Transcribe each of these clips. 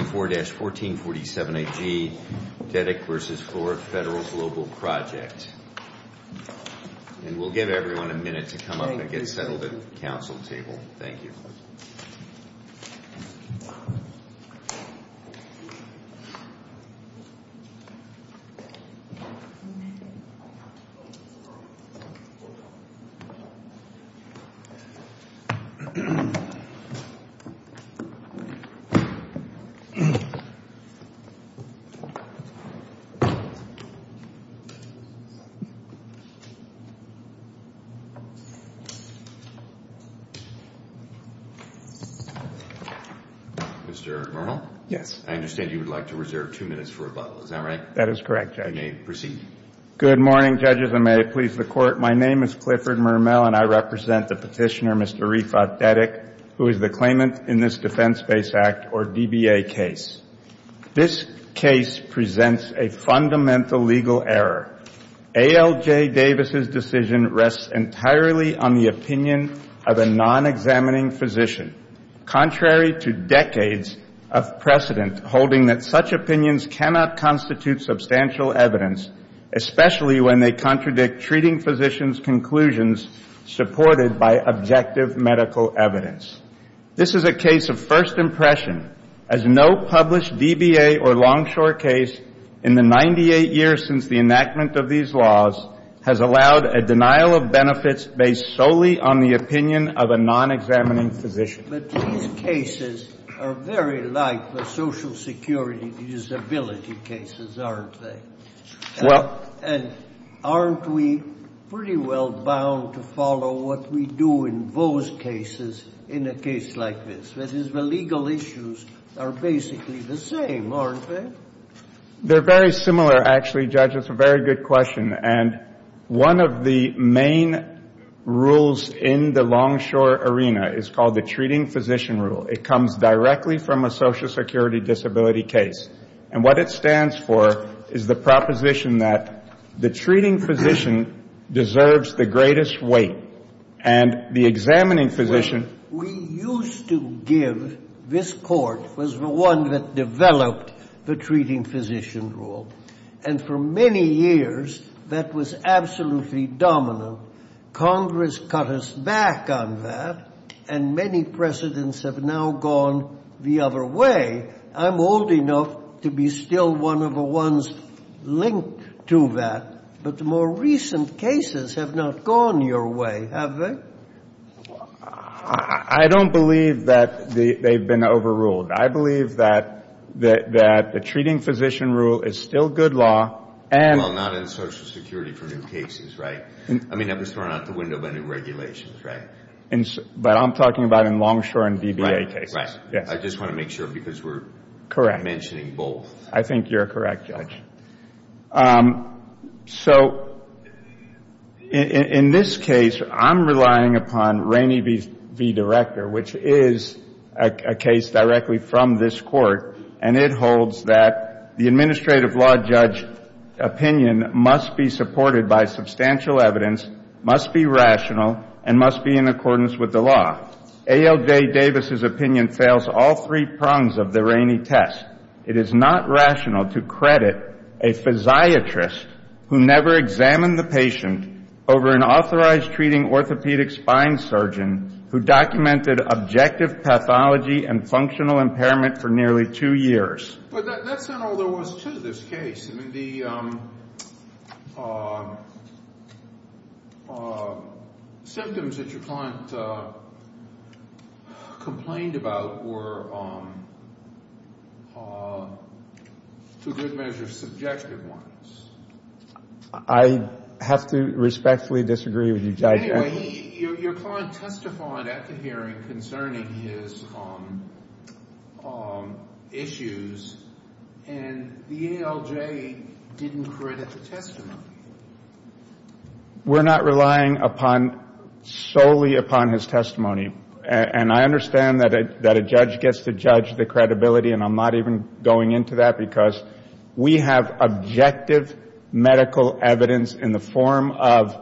24-1447 AG Dedic v. Florida Federal Global Project. And we'll give everyone a minute to come up and get settled at the council table. Thank you. Mr. Mermel? Yes. I understand you would like to reserve two minutes for rebuttal. Is that right? That is correct, Judge. You may proceed. Good morning, judges, and may it please the Court. My name is Clifford Mermel, and I represent the petitioner, Mr. Arifat Dedic, who is the claimant in this Defense-Based Act, or DBA, case. This case presents a fundamental legal error. A.L.J. Davis' decision rests entirely on the opinion of a non-examining physician, contrary to decades of precedent holding that such opinions cannot constitute substantial evidence, especially when they contradict treating physicians' conclusions supported by objective medical evidence. This is a case of first impression, as no published DBA or Longshore case in the 98 years since the enactment of these laws has allowed a denial of benefits based solely on the opinion of a non-examining physician. But these cases are very like the Social Security disability cases, aren't they? Well — And aren't we pretty well bound to follow what we do in those cases in a case like this? That is, the legal issues are basically the same, aren't they? They're very similar, actually, Judge. It's a very good question. And one of the main rules in the Longshore arena is called the treating physician rule. It comes directly from a Social Security disability case. And what it stands for is the proposition that the treating physician deserves the greatest weight, and the examining physician — Well, we used to give — this Court was the one that developed the treating physician rule. And for many years, that was absolutely dominant. Congress cut us back on that, and many precedents have now gone the other way. I'm old enough to be still one of the ones linked to that. But the more recent cases have not gone your way, have they? I don't believe that they've been overruled. I believe that the treating physician rule is still good law and — Well, not in Social Security for new cases, right? I mean, that was thrown out the window by new regulations, right? But I'm talking about in Longshore and DBA cases. Right, right. I just want to make sure because we're — Correct. — mentioning both. I think you're correct, Judge. So in this case, I'm relying upon Rainey v. Director, which is a case directly from this Court, and it holds that the administrative law judge opinion must be supported by substantial evidence, must be rational, and must be in accordance with the law. A.L.J. Davis's opinion fails all three prongs of the Rainey test. It is not rational to credit a physiatrist who never examined the patient over an authorized treating orthopedic spine surgeon who documented objective pathology and functional impairment for nearly two years. But that's not all there was to this case. I mean, the symptoms that your client complained about were, to a good measure, subjective ones. I have to respectfully disagree with you, Judge. Anyway, your client testified at the hearing concerning his issues, and the A.L.J. didn't credit the testimony. We're not relying solely upon his testimony. And I understand that a judge gets to judge the credibility, and I'm not even going into that because we have objective medical evidence in the form of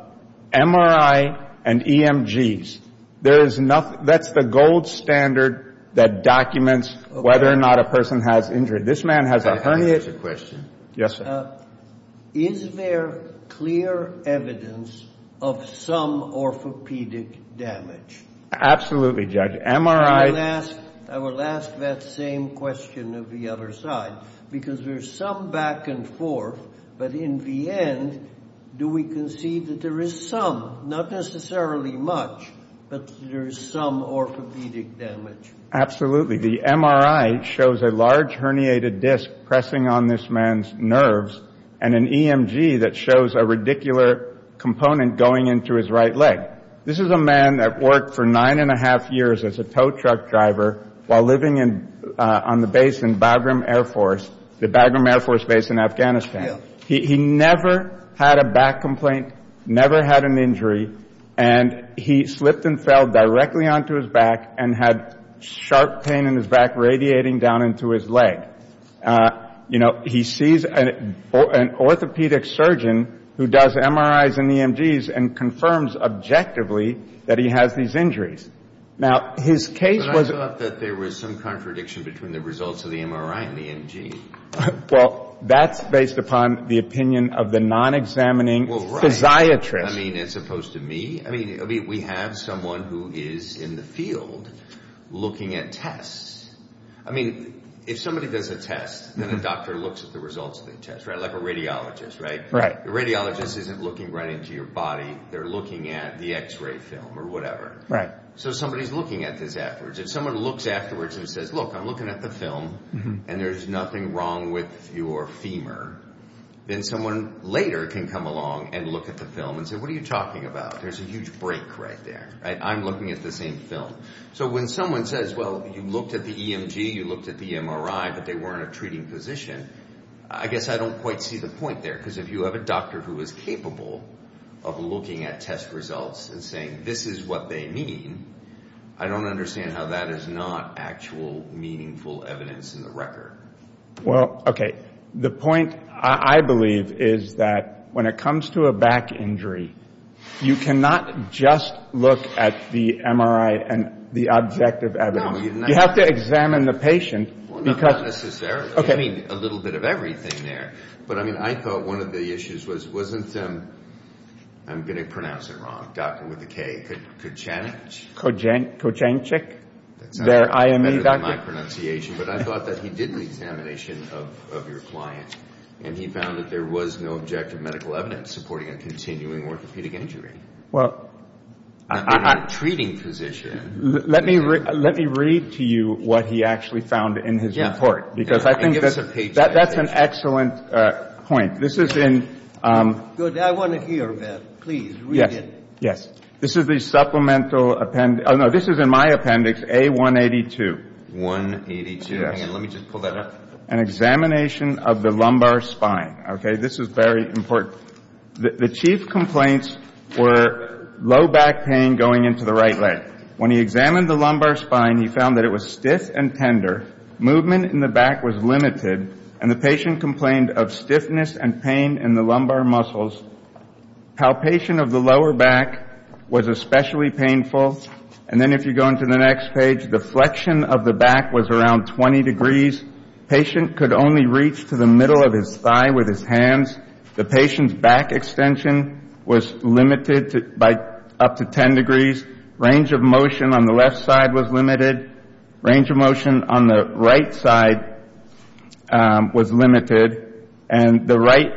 MRI and EMGs. There is nothing — that's the gold standard that documents whether or not a person has injured. This man has a herniated — Can I ask a question? Yes, sir. Is there clear evidence of some orthopedic damage? Absolutely, Judge. MRI — I will ask that same question of the other side, because there's some back and forth, but in the end, do we concede that there is some, not necessarily much, but there is some orthopedic damage? Absolutely. The MRI shows a large herniated disc pressing on this man's nerves and an EMG that shows a radicular component going into his right leg. This is a man that worked for nine and a half years as a tow truck driver while living on the base in Bagram Air Force, the Bagram Air Force Base in Afghanistan. He never had a back complaint, never had an injury, and he slipped and fell directly onto his back and had sharp pain in his back radiating down into his leg. You know, he sees an orthopedic surgeon who does MRIs and EMGs and confirms objectively that he has these injuries. Now, his case was — But I thought that there was some contradiction between the results of the MRI and the EMG. Well, that's based upon the opinion of the non-examining physiatrist. Well, right. I mean, as opposed to me. I mean, we have someone who is in the field looking at tests. I mean, if somebody does a test, then the doctor looks at the results of the test, right? Like a radiologist, right? Right. The radiologist isn't looking right into your body. They're looking at the X-ray film or whatever. Right. So somebody is looking at this afterwards. If someone looks afterwards and says, look, I'm looking at the film, and there's nothing wrong with your femur, then someone later can come along and look at the film and say, what are you talking about? There's a huge break right there. I'm looking at the same film. So when someone says, well, you looked at the EMG, you looked at the MRI, but they weren't a treating physician, I guess I don't quite see the point there. Because if you have a doctor who is capable of looking at test results and saying this is what they mean, I don't understand how that is not actual meaningful evidence in the record. Well, okay. The point, I believe, is that when it comes to a back injury, you cannot just look at the MRI and the objective evidence. You have to examine the patient. Well, not necessarily. Okay. I mean, a little bit of everything there. But I mean, I thought one of the issues was, wasn't, I'm going to pronounce it wrong, doctor with a K, Kochenich? Kochenich. That's better than my pronunciation. But I thought that he did an examination of your client and he found that there was no objective medical evidence supporting a continuing orthopedic injury. Well. A treating physician. Let me read to you what he actually found in his report. Because I think that's an excellent point. This is in. Good. I want to hear that. Please read it. Yes. Yes. This is the supplemental appendix. Oh, no, this is in my appendix, A182. 182. Yes. Hang on, let me just pull that up. An examination of the lumbar spine. Okay. This is very important. The chief complaints were low back pain going into the right leg. When he examined the lumbar spine, he found that it was stiff and tender. Movement in the back was limited. And the patient complained of stiffness and pain in the lumbar muscles. Palpation of the lower back was especially painful. And then if you go into the next page, the flexion of the back was around 20 degrees. Patient could only reach to the middle of his thigh with his hands. The patient's back extension was limited by up to 10 degrees. Range of motion on the left side was limited. Range of motion on the right side was limited. And the right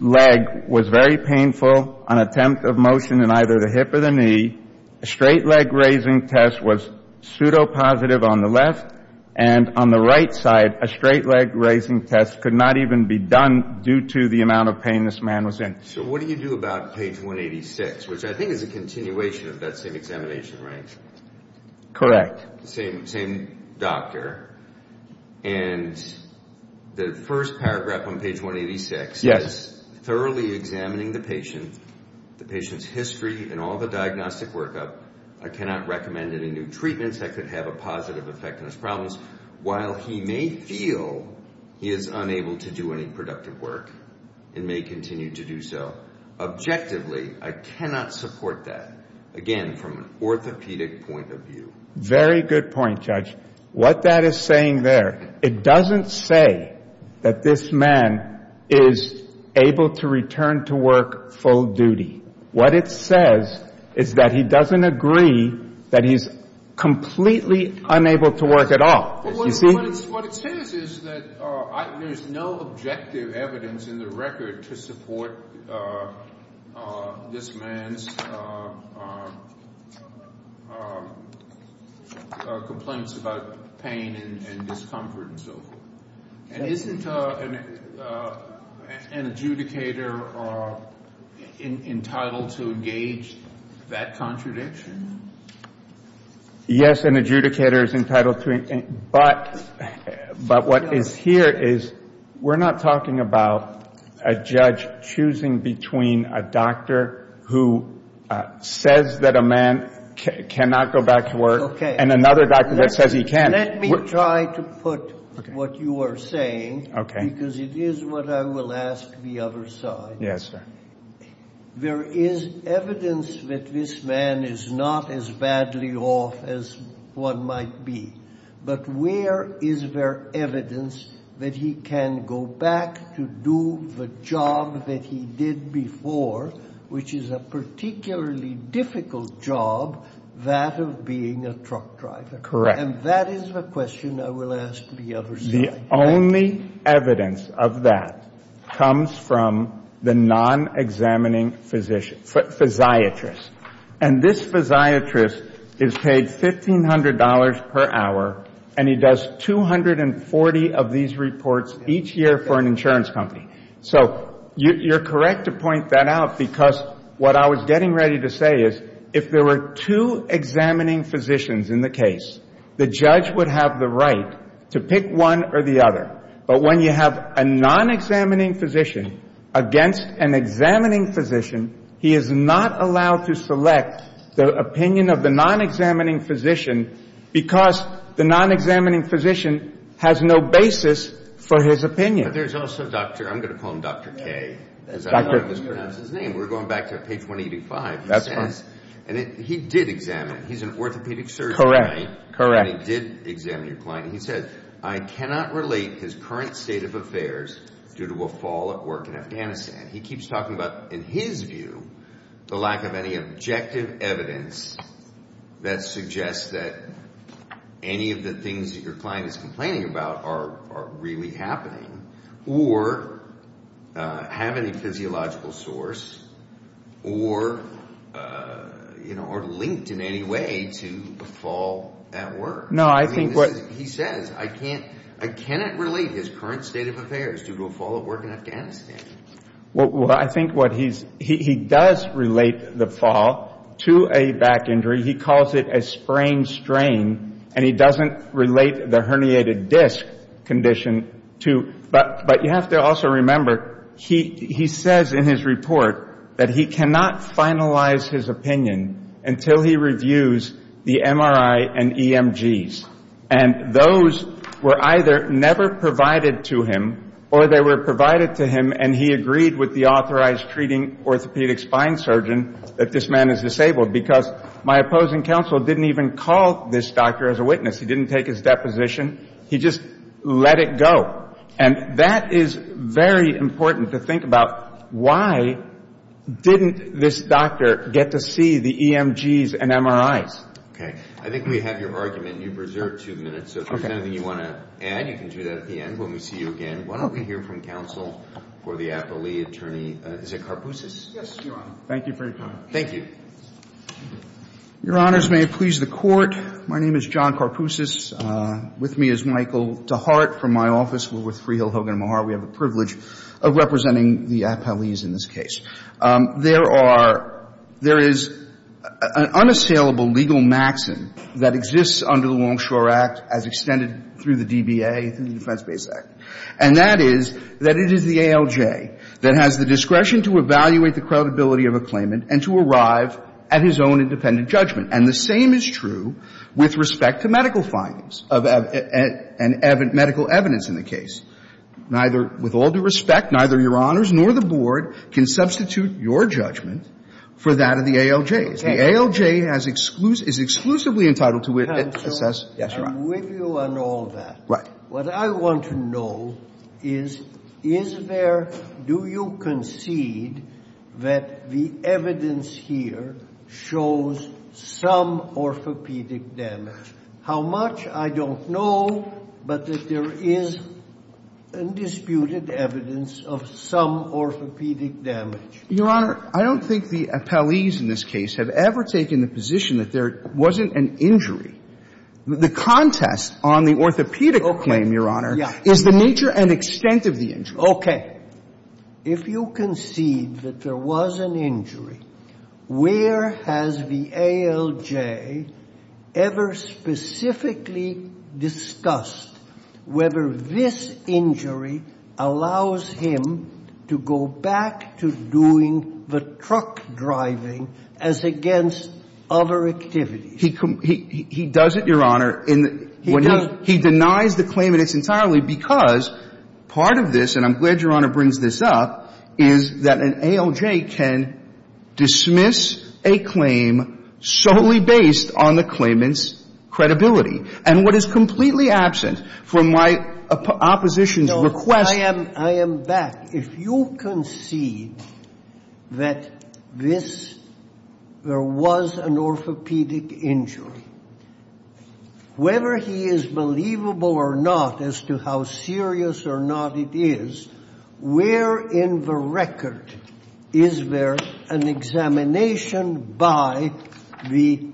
leg was very painful. An attempt of motion in either the hip or the knee. A straight leg raising test was pseudopositive on the left. And on the right side, a straight leg raising test could not even be done due to the amount of pain this man was in. So what do you do about page 186, which I think is a continuation of that same examination, right? Correct. The same doctor. And the first paragraph on page 186 is thoroughly examining the patient, the patient's history and all the diagnostic workup. I cannot recommend any new treatments that could have a positive effect on his problems. While he may feel he is unable to do any productive work and may continue to do so. Objectively, I cannot support that. Again, from an orthopedic point of view. Very good point, Judge. What that is saying there, it doesn't say that this man is able to return to work full duty. What it says is that he doesn't agree that he's completely unable to work at all. You see? What it says is that there's no objective evidence in the record to support this man's complaints about pain and discomfort and so forth. And isn't an adjudicator entitled to engage that contradiction? Yes, an adjudicator is entitled to. But what is here is we're not talking about a judge choosing between a doctor who says that a man cannot go back to work and another doctor that says he can. Let me try to put what you are saying, because it is what I will ask the other side. Yes, sir. There is evidence that this man is not as badly off as one might be. But where is there evidence that he can go back to do the job that he did before, which is a particularly difficult job, that of being a truck driver? Correct. And that is the question I will ask the other side. The only evidence of that comes from the non-examining physiatrist. And this physiatrist is paid $1,500 per hour, and he does 240 of these reports each year for an insurance company. So you're correct to point that out, because what I was getting ready to say is if there were two examining physicians in the case, the judge would have the right to pick one or the other. But when you have a non-examining physician against an examining physician, he is not allowed to select the opinion of the non-examining physician because the non-examining physician has no basis for his opinion. But there's also Dr. – I'm going to call him Dr. K, as I mispronounce his name. We're going back to page 185. That's fine. And he did examine. He's an orthopedic surgeon, right? And he did examine your client. And he said, I cannot relate his current state of affairs due to a fall at work in Afghanistan. He keeps talking about, in his view, the lack of any objective evidence that suggests that any of the things that your client is complaining about are really happening or have any physiological source or are linked in any way to a fall at work. No, I think what – He says, I cannot relate his current state of affairs due to a fall at work in Afghanistan. Well, I think what he's – he does relate the fall to a back injury. He calls it a sprain strain. And he doesn't relate the herniated disc condition to – but you have to also remember, he says in his report that he cannot finalize his opinion until he reviews the MRI and EMGs. And those were either never provided to him or they were provided to him and he agreed with the authorized treating orthopedic spine surgeon that this man is disabled. Because my opposing counsel didn't even call this doctor as a witness. He didn't take his deposition. He just let it go. And that is very important to think about. Why didn't this doctor get to see the EMGs and MRIs? Okay. I think we have your argument. You've reserved two minutes. So if there's anything you want to add, you can do that at the end when we see you again. Okay. Why don't we hear from counsel for the appellee attorney – is it Karpousis? Yes, Your Honor. Thank you for your time. Thank you. Your Honors, may it please the Court. My name is John Karpousis. With me is Michael DeHart from my office. We're with Freehill Hogan Maher. We have the privilege of representing the appellees in this case. There are – there is an unassailable legal maxim that exists under the Longshore Act as extended through the DBA, through the Defense-Based Act, and that is that it is the ALJ that has the discretion to evaluate the credibility of a claimant and to arrive at his own independent judgment. And the same is true with respect to medical findings of – and medical evidence in the case. Neither – with all due respect, neither Your Honors nor the Board can substitute your judgment for that of the ALJs. The ALJ has – is exclusively entitled to assess – Yes, Your Honor. I'm with you on all that. Right. What I want to know is, is there – do you concede that the evidence here shows some orthopedic damage? How much, I don't know, but that there is undisputed evidence of some orthopedic damage. Your Honor, I don't think the appellees in this case have ever taken the position that there wasn't an injury. The contest on the orthopedic claim, Your Honor, is the nature and extent of the injury. Okay. If you concede that there was an injury, where has the ALJ ever specifically discussed whether this injury allows him to go back to doing the truck driving as against other activities? He – he does it, Your Honor. He does. He denies the claim in its entirety because part of this – and I'm glad Your Honor brings this up – is that an ALJ can dismiss a claim solely based on the claimant's credibility. And what is completely absent from my opposition's request – I am – I am back. If you concede that this – there was an orthopedic injury, whether he is believable or not as to how serious or not it is, where in the record is there an examination by the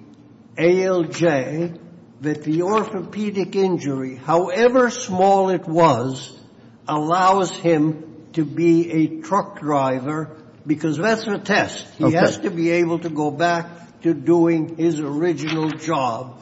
ALJ that the orthopedic injury, however small it was, allows him to be a truck driver? Because that's the test. He has to be able to go back to doing his original job.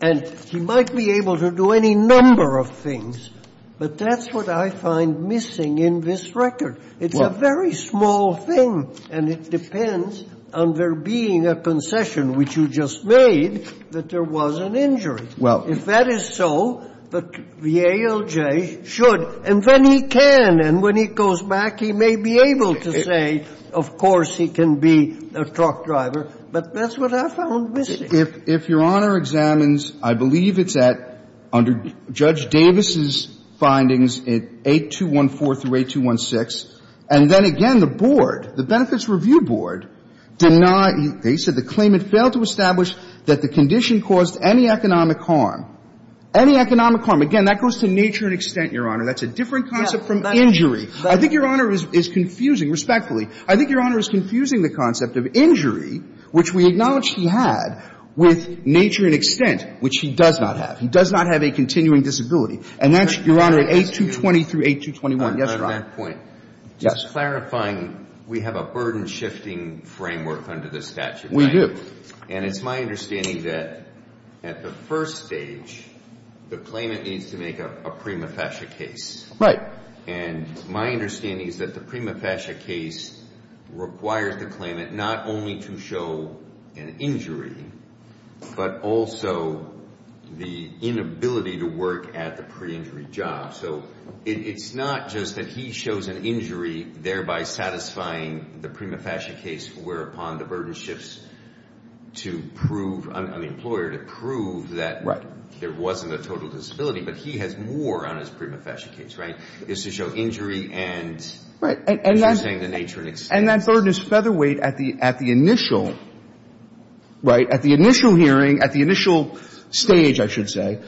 And he might be able to do any number of things, but that's what I find missing in this record. It's a very small thing, and it depends on there being a concession, which you just made, that there was an injury. Well – If that is so, the ALJ should. And then he can. And when he goes back, he may be able to say, of course, he can be a truck driver. But that's what I found missing. If your Honor examines, I believe it's at, under Judge Davis's findings, at 8214 through 8216. And then again, the board, the Benefits Review Board, denied – they said the claim had failed to establish that the condition caused any economic harm. Any economic harm. Again, that goes to nature and extent, Your Honor. That's a different concept from injury. I think Your Honor is confusing, respectfully. I think Your Honor is confusing the concept of injury, which we acknowledge he had, with nature and extent, which he does not have. He does not have a continuing disability. And that's, Your Honor, at 8220 through 8221. Yes, Your Honor. On that point, just clarifying, we have a burden-shifting framework under the statute. We do. And it's my understanding that at the first stage, the claimant needs to make a prima facie case. Right. And my understanding is that the prima facie case requires the claimant not only to show an injury, but also the inability to work at the pre-injury job. So it's not just that he shows an injury, thereby satisfying the prima facie case, whereupon the burden shifts to prove – I mean, the employer to prove that there wasn't a total disability. But he has more on his prima facie case, right? Is to show injury and, as you're saying, the nature and extent. And that burden is featherweight at the initial, right, at the initial hearing, at the initial stage, I should say.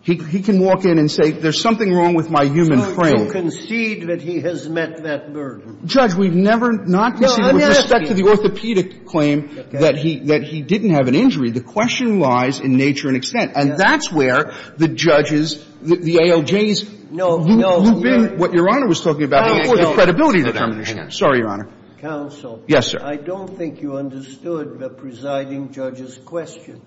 He can walk in and say, there's something wrong with my human frame. So concede that he has met that burden. Judge, we've never not conceded with respect to the orthopedic claim that he didn't have an injury. The question lies in nature and extent. And that's where the judges, the ALJs, who've been – what Your Honor was talking about before, the credibility determination. Sorry, Your Honor. Counsel. Yes, sir. I don't think you understood the presiding judge's question.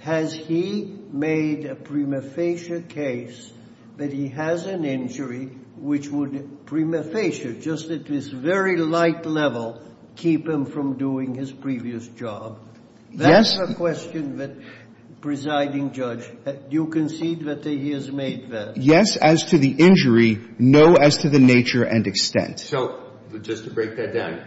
Has he made a prima facie case that he has an injury which would prima facie, just at this very light level, keep him from doing his previous job? Yes. I have a question that, presiding judge, do you concede that he has made that? Yes, as to the injury. No, as to the nature and extent. So, just to break that down,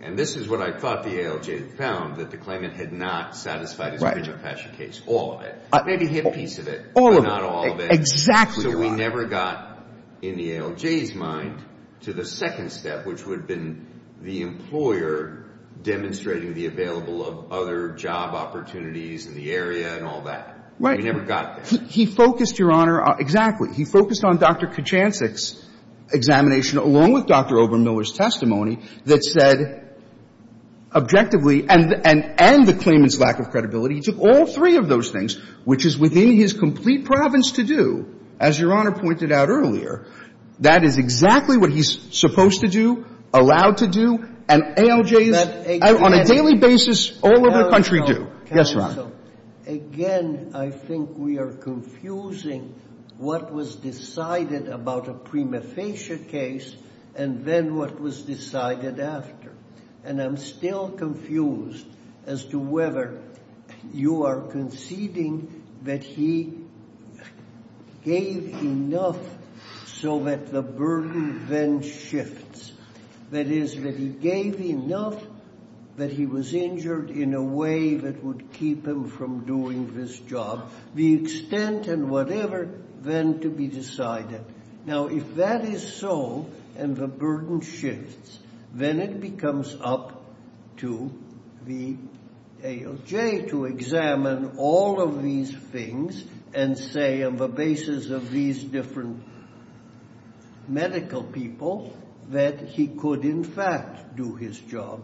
and this is what I thought the ALJ found, that the claimant had not satisfied his prima facie case, all of it. Maybe a hit piece of it. All of it. But not all of it. Exactly right. So we never got, in the ALJ's mind, to the second step, which would have been the employer demonstrating the available of other job opportunities in the area and all that. We never got that. He focused, Your Honor, exactly. He focused on Dr. Kachansik's examination, along with Dr. Obermiller's testimony, that said, objectively, and the claimant's lack of credibility. He took all three of those things, which is within his complete province to do, as Your Honor pointed out earlier. That is exactly what he's supposed to do, allowed to do, and ALJs on a daily basis all over the country do. Yes, Your Honor. Counsel, again, I think we are confusing what was decided about a prima facie case and then what was decided after. And I'm still confused as to whether you are conceding that he gave enough so that the burden then shifts. That is, that he gave enough that he was injured in a way that would keep him from doing this job. The extent and whatever then to be decided. Now, if that is so and the burden shifts, then it becomes up to the ALJ to examine all of these things and say, on the basis of these different medical people, that he could, in fact, do his job.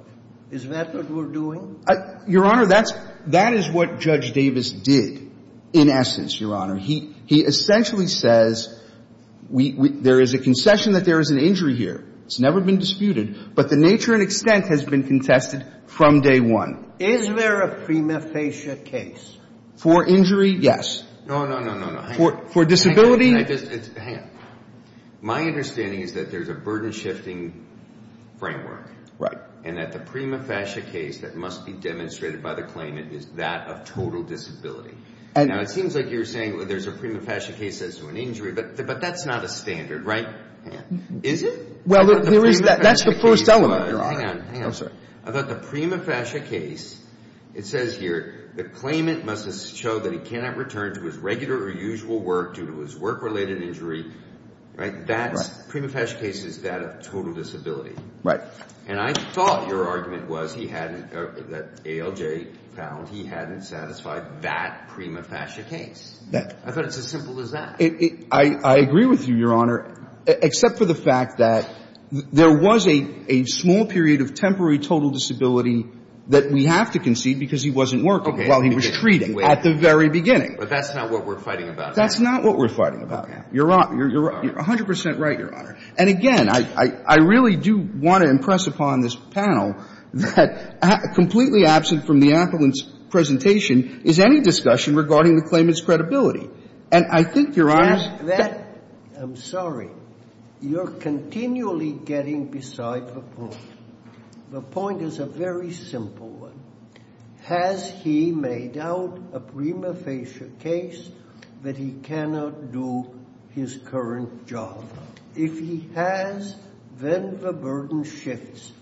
Is that what we're doing? Your Honor, that is what Judge Davis did, in essence, Your Honor. He essentially says there is a concession that there is an injury here. It's never been disputed. But the nature and extent has been contested from day one. Is there a prima facie case? For injury? Yes. No, no, no, no. For disability? Hang on. My understanding is that there is a burden-shifting framework. Right. And that the prima facie case that must be demonstrated by the claimant is that of total disability. Now, it seems like you're saying there's a prima facie case as to an injury, but that's not a standard, right? Is it? Well, there is. That's the first element, Your Honor. Hang on. I thought the prima facie case, it says here, the claimant must show that he cannot return to his regular or usual work due to his work-related injury. Right? That's prima facie case is that of total disability. Right. And I thought your argument was he hadn't, that ALJ found he hadn't satisfied that prima facie case. Yeah. I thought it's as simple as that. I agree with you, Your Honor, except for the fact that there was a small period of temporary total disability that we have to concede because he wasn't working while he was treating at the very beginning. But that's not what we're fighting about. That's not what we're fighting about, Your Honor. You're 100 percent right, Your Honor. And, again, I really do want to impress upon this panel that completely absent from the appellant's presentation is any discussion regarding the claimant's credibility. And I think, Your Honor. I'm sorry. You're continually getting beside the point. The point is a very simple one. Has he made out a prima facie case that he cannot do his current job? If he has, then the burden shifts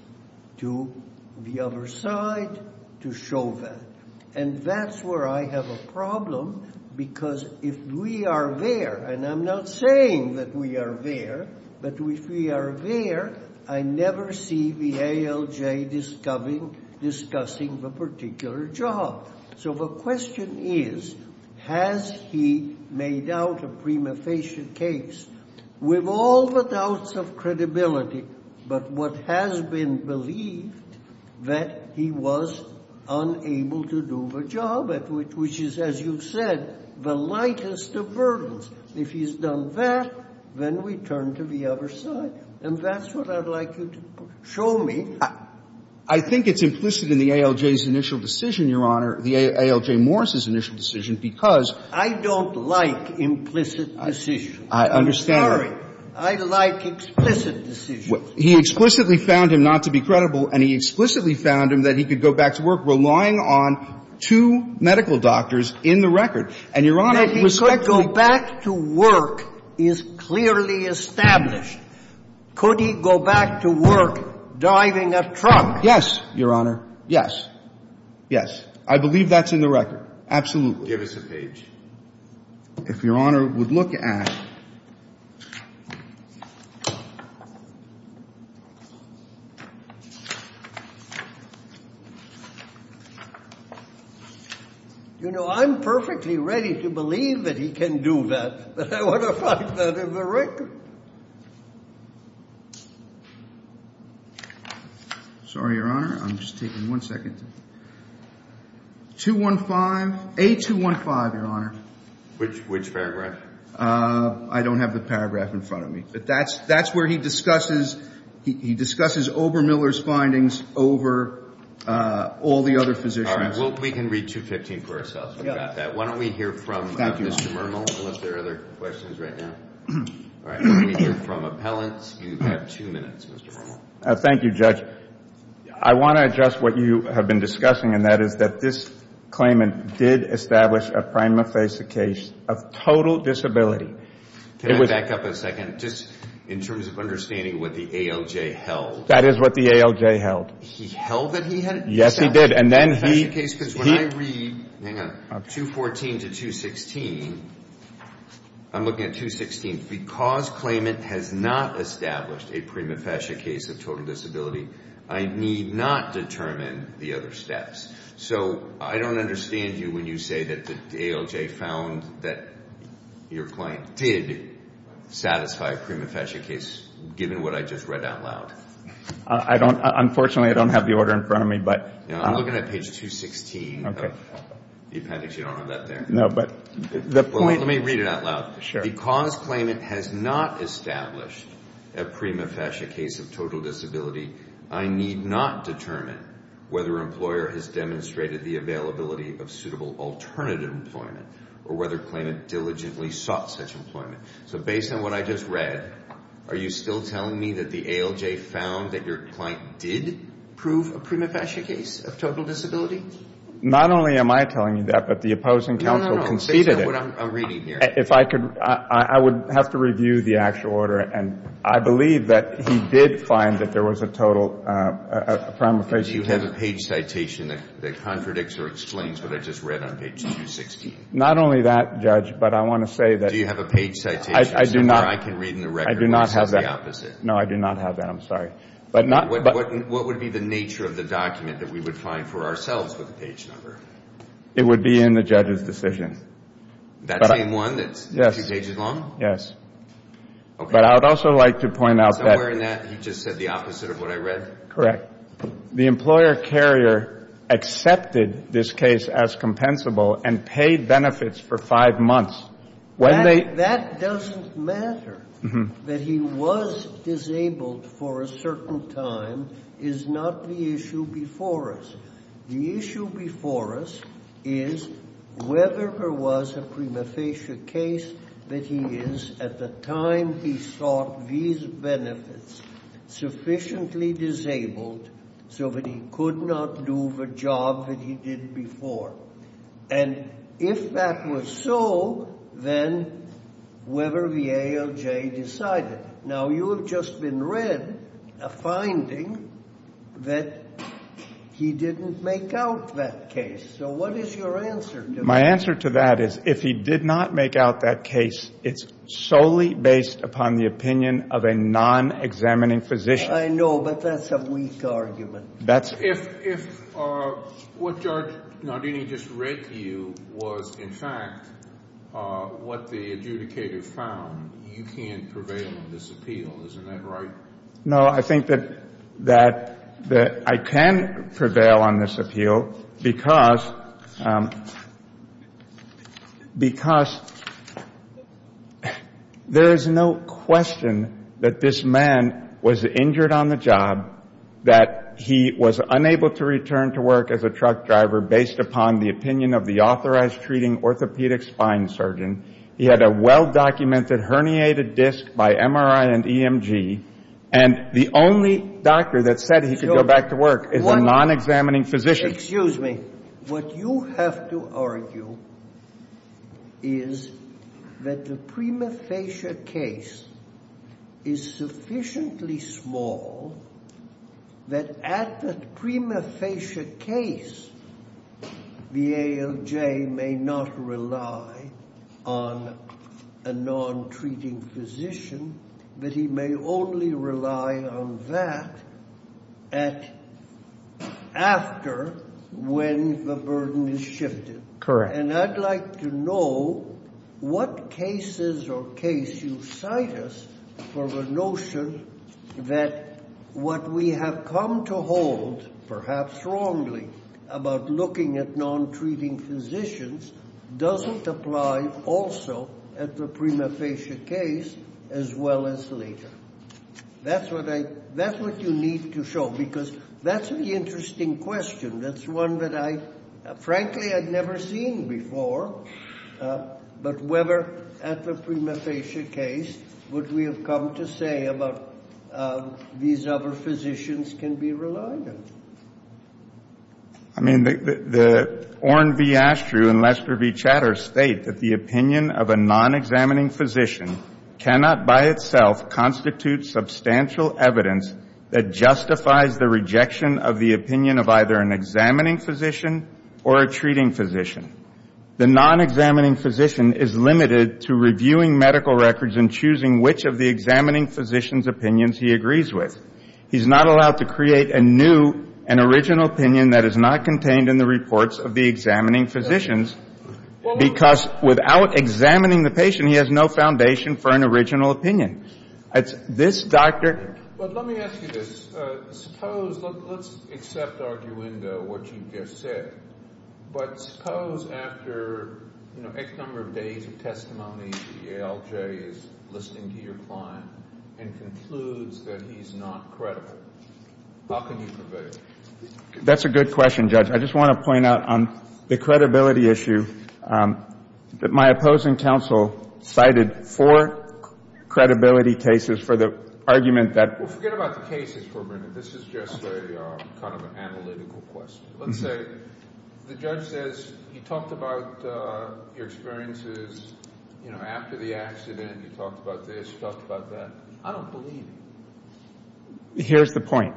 to the other side to show that. And that's where I have a problem because if we are there, and I'm not saying that we are there, but if we are there, I never see the ALJ discussing the particular job. So the question is, has he made out a prima facie case with all the doubts of which is, as you've said, the lightest of burdens. If he's done that, then we turn to the other side. And that's what I'd like you to show me. I think it's implicit in the ALJ's initial decision, Your Honor, the ALJ Morris's initial decision, because — I don't like implicit decisions. I understand. I'm sorry. I like explicit decisions. He explicitly found him not to be credible, and he explicitly found him that he could go back to work relying on two medical doctors in the record. And, Your Honor, respectfully — That he could go back to work is clearly established. Could he go back to work diving a trunk? Yes, Your Honor. Yes. Yes. I believe that's in the record. Absolutely. Give us a page. If Your Honor would look at — You know, I'm perfectly ready to believe that he can do that. But I want to find that in the record. Sorry, Your Honor. I'm just taking one second. 215. A215, Your Honor. Which paragraph? I don't have the paragraph in front of me. But that's where he discusses — he discusses Obermiller's findings over all the other physicians. All right. Well, we can read 215 for ourselves. We've got that. Why don't we hear from Mr. Murnell, unless there are other questions right now? All right. Let me hear from appellants. You have two minutes, Mr. Murnell. Thank you, Judge. I want to address what you have been discussing, and that is that this claimant did establish a prima facie case of total disability. Can I back up a second? Just in terms of understanding what the ALJ held. That is what the ALJ held. He held that he had established a prima facie case? Yes, he did. And then he — Because when I read, hang on, 214 to 216, I'm looking at 216. Because claimant has not established a prima facie case of total disability, I need not determine the other steps. So I don't understand you when you say that the ALJ found that your claim did satisfy a prima facie case, given what I just read out loud. I don't — unfortunately, I don't have the order in front of me, but — I'm looking at page 216. Okay. The appendix, you don't have that there. No, but the point — Let me read it out loud. Sure. Because claimant has not established a prima facie case of total disability, I need not determine whether employer has demonstrated the availability of suitable alternative employment or whether claimant diligently sought such employment. So based on what I just read, are you still telling me that the ALJ found that your client did prove a prima facie case of total disability? Not only am I telling you that, but the opposing counsel conceded it. I'm — I would have to review the actual order, and I believe that he did find that there was a total — a prima facie case. Do you have a page citation that contradicts or explains what I just read on page 216? Not only that, Judge, but I want to say that — Do you have a page citation somewhere I can read in the record where it says the opposite? No, I do not have that. I'm sorry. But not — What would be the nature of the document that we would find for ourselves with the page number? It would be in the judge's decision. That same one that's two pages long? Okay. But I would also like to point out that — Somewhere in that he just said the opposite of what I read? Correct. The employer carrier accepted this case as compensable and paid benefits for five months. When they — That doesn't matter. That he was disabled for a certain time is not the issue before us. The issue before us is whether there was a prima facie case that he is, at the time he sought these benefits, sufficiently disabled so that he could not do the job that he did before. And if that was so, then whether the ALJ decided. Now, you have just been read a finding that he didn't make out that case. So what is your answer to that? My answer to that is if he did not make out that case, it's solely based upon the opinion of a non-examining physician. I know, but that's a weak argument. If what Judge Nardini just read to you was, in fact, what the adjudicator found, you can't prevail on this appeal. Isn't that right? No, I think that I can prevail on this appeal because there is no question that this man was injured on the job, that he was unable to return to work as a truck driver based upon the opinion of the authorized treating orthopedic spine surgeon. He had a well-documented herniated disc by MRI and EMG, and the only doctor that said he could go back to work is a non-examining physician. Excuse me. What you have to argue is that the prima facie case is sufficiently small that at the prima facie case, the ALJ may not rely on a non-treating physician, but he may only rely on that after when the burden is shifted. Correct. And I'd like to know what cases or case you cite us for the notion that what we have come to hold, perhaps wrongly, about looking at non-treating physicians doesn't apply also at the prima facie case as well as later. That's what you need to show because that's an interesting question. That's one that I, frankly, had never seen before. But whether at the prima facie case would we have come to say about these other physicians can be relied on? I mean, the Oren V. Ashtrew and Lester V. Chatter state that the opinion of a non-examining physician cannot by itself constitute substantial evidence that justifies the rejection of the opinion of either an examining physician or a treating physician. The non-examining physician is limited to reviewing medical records and choosing which of the examining physician's opinions he agrees with. He's not allowed to create a new and original opinion that is not contained in the reports of the examining physicians, because without examining the patient, he has no foundation for an original opinion. It's this doctor. But let me ask you this. Suppose, let's accept arguendo what you just said, but suppose after, you know, X number of days of testimony, the ALJ is listening to your client and concludes that he's not credible. How can you prevail? That's a good question, Judge. I just want to point out on the credibility issue that my opposing counsel cited four credibility cases for the argument that Well, forget about the cases for a minute. This is just a kind of analytical question. Let's say the judge says he talked about your experiences, you know, after the accident. He talked about this. He talked about that. I don't believe him. Here's the point.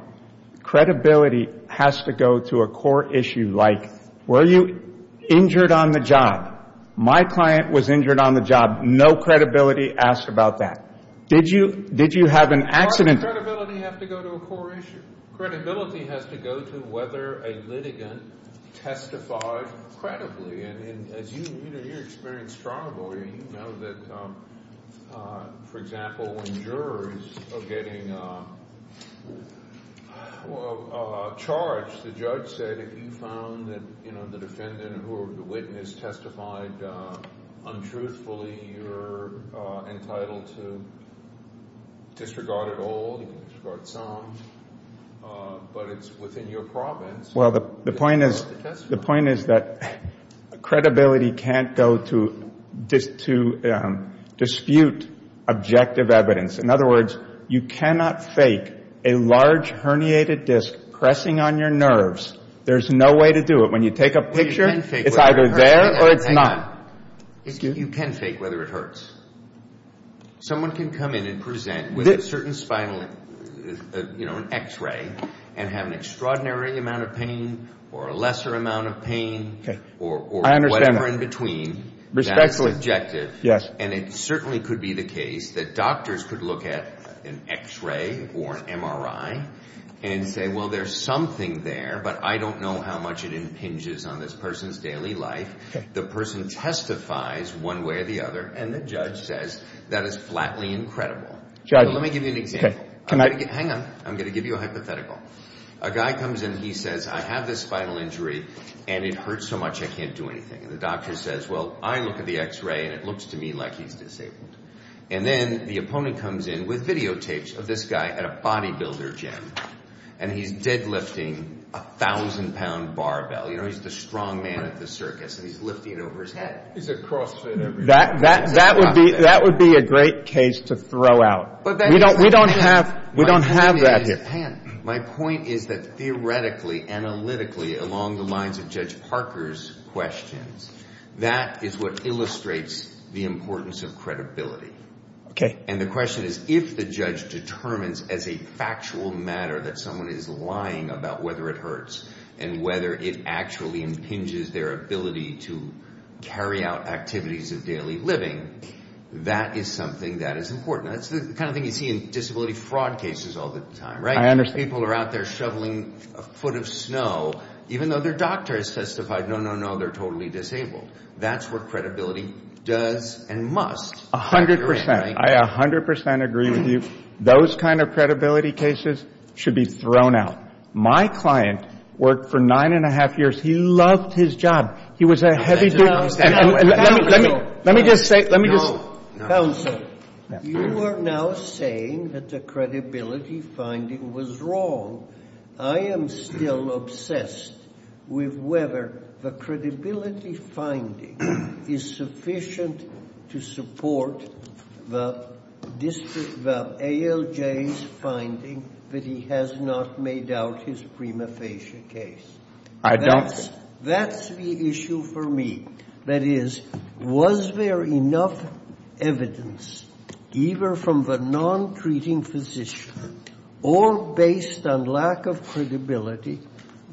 Credibility has to go to a core issue like were you injured on the job? My client was injured on the job. No credibility asked about that. Did you have an accident? Why does credibility have to go to a core issue? Credibility has to go to whether a litigant testified credibly. You know, you're experienced trial lawyer. You know that, for example, when jurors are getting charged, the judge said, if you found that, you know, the defendant or whoever the witness testified untruthfully, you're entitled to disregard it all, disregard some, but it's within your province. Well, the point is that credibility can't go to dispute objective evidence. In other words, you cannot fake a large herniated disc pressing on your nerves. There's no way to do it. When you take a picture, it's either there or it's not. You can fake whether it hurts. Someone can come in and present with a certain spinal, you know, and have an extraordinary amount of pain or a lesser amount of pain or whatever in between. Respectfully. Yes. And it certainly could be the case that doctors could look at an x-ray or an MRI and say, well, there's something there, but I don't know how much it impinges on this person's daily life. The person testifies one way or the other, and the judge says that is flatly incredible. Judge. Let me give you an example. Okay. Hang on. I'm going to give you a hypothetical. A guy comes in. He says, I have this spinal injury, and it hurts so much I can't do anything. And the doctor says, well, I look at the x-ray, and it looks to me like he's disabled. And then the opponent comes in with videotapes of this guy at a bodybuilder gym, and he's dead lifting a 1,000-pound barbell. You know, he's the strong man at the circus, and he's lifting it over his head. He's a crossfit. That would be a great case to throw out. We don't have that here. Hang on. My point is that theoretically, analytically, along the lines of Judge Parker's questions, that is what illustrates the importance of credibility. Okay. And the question is, if the judge determines as a factual matter that someone is lying about whether it hurts and whether it actually impinges their ability to carry out activities of daily living, that is something that is important. That's the kind of thing you see in disability fraud cases all the time, right? I understand. People are out there shoveling a foot of snow, even though their doctor has testified, no, no, no, they're totally disabled. That's what credibility does and must. A hundred percent. I a hundred percent agree with you. Those kind of credibility cases should be thrown out. My client worked for nine-and-a-half years. He loved his job. He was a heavy-duty staff member. Let me just say — No. Counsel, you are now saying that the credibility finding was wrong. I am still obsessed with whether the credibility finding is sufficient to support the ALJ's finding that he has not made out his prima facie case. I don't. That's the issue for me. That is, was there enough evidence, either from the non-treating physician or based on lack of credibility,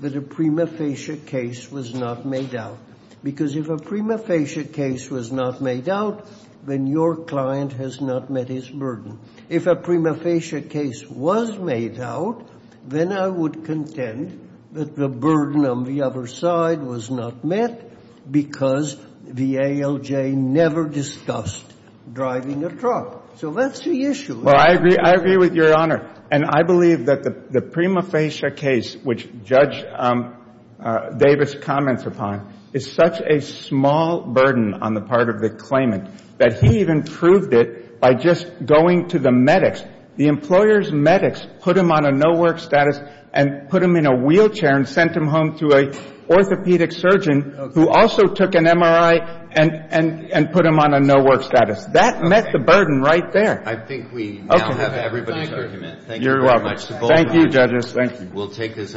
that a prima facie case was not made out? Because if a prima facie case was not made out, then your client has not met his burden. If a prima facie case was made out, then I would contend that the burden on the other side was not met because the ALJ never discussed driving a truck. So that's the issue. Well, I agree. I agree with Your Honor. And I believe that the prima facie case, which Judge Davis comments upon, is such a small burden on the part of the claimant that he even proved it by just going to the medics. The employer's medics put him on a no-work status and put him in a wheelchair and sent him home to an orthopedic surgeon who also took an MRI and put him on a no-work status. That met the burden right there. I think we now have everybody's argument. Thank you very much. You're welcome. Thank you, Judges. Thank you.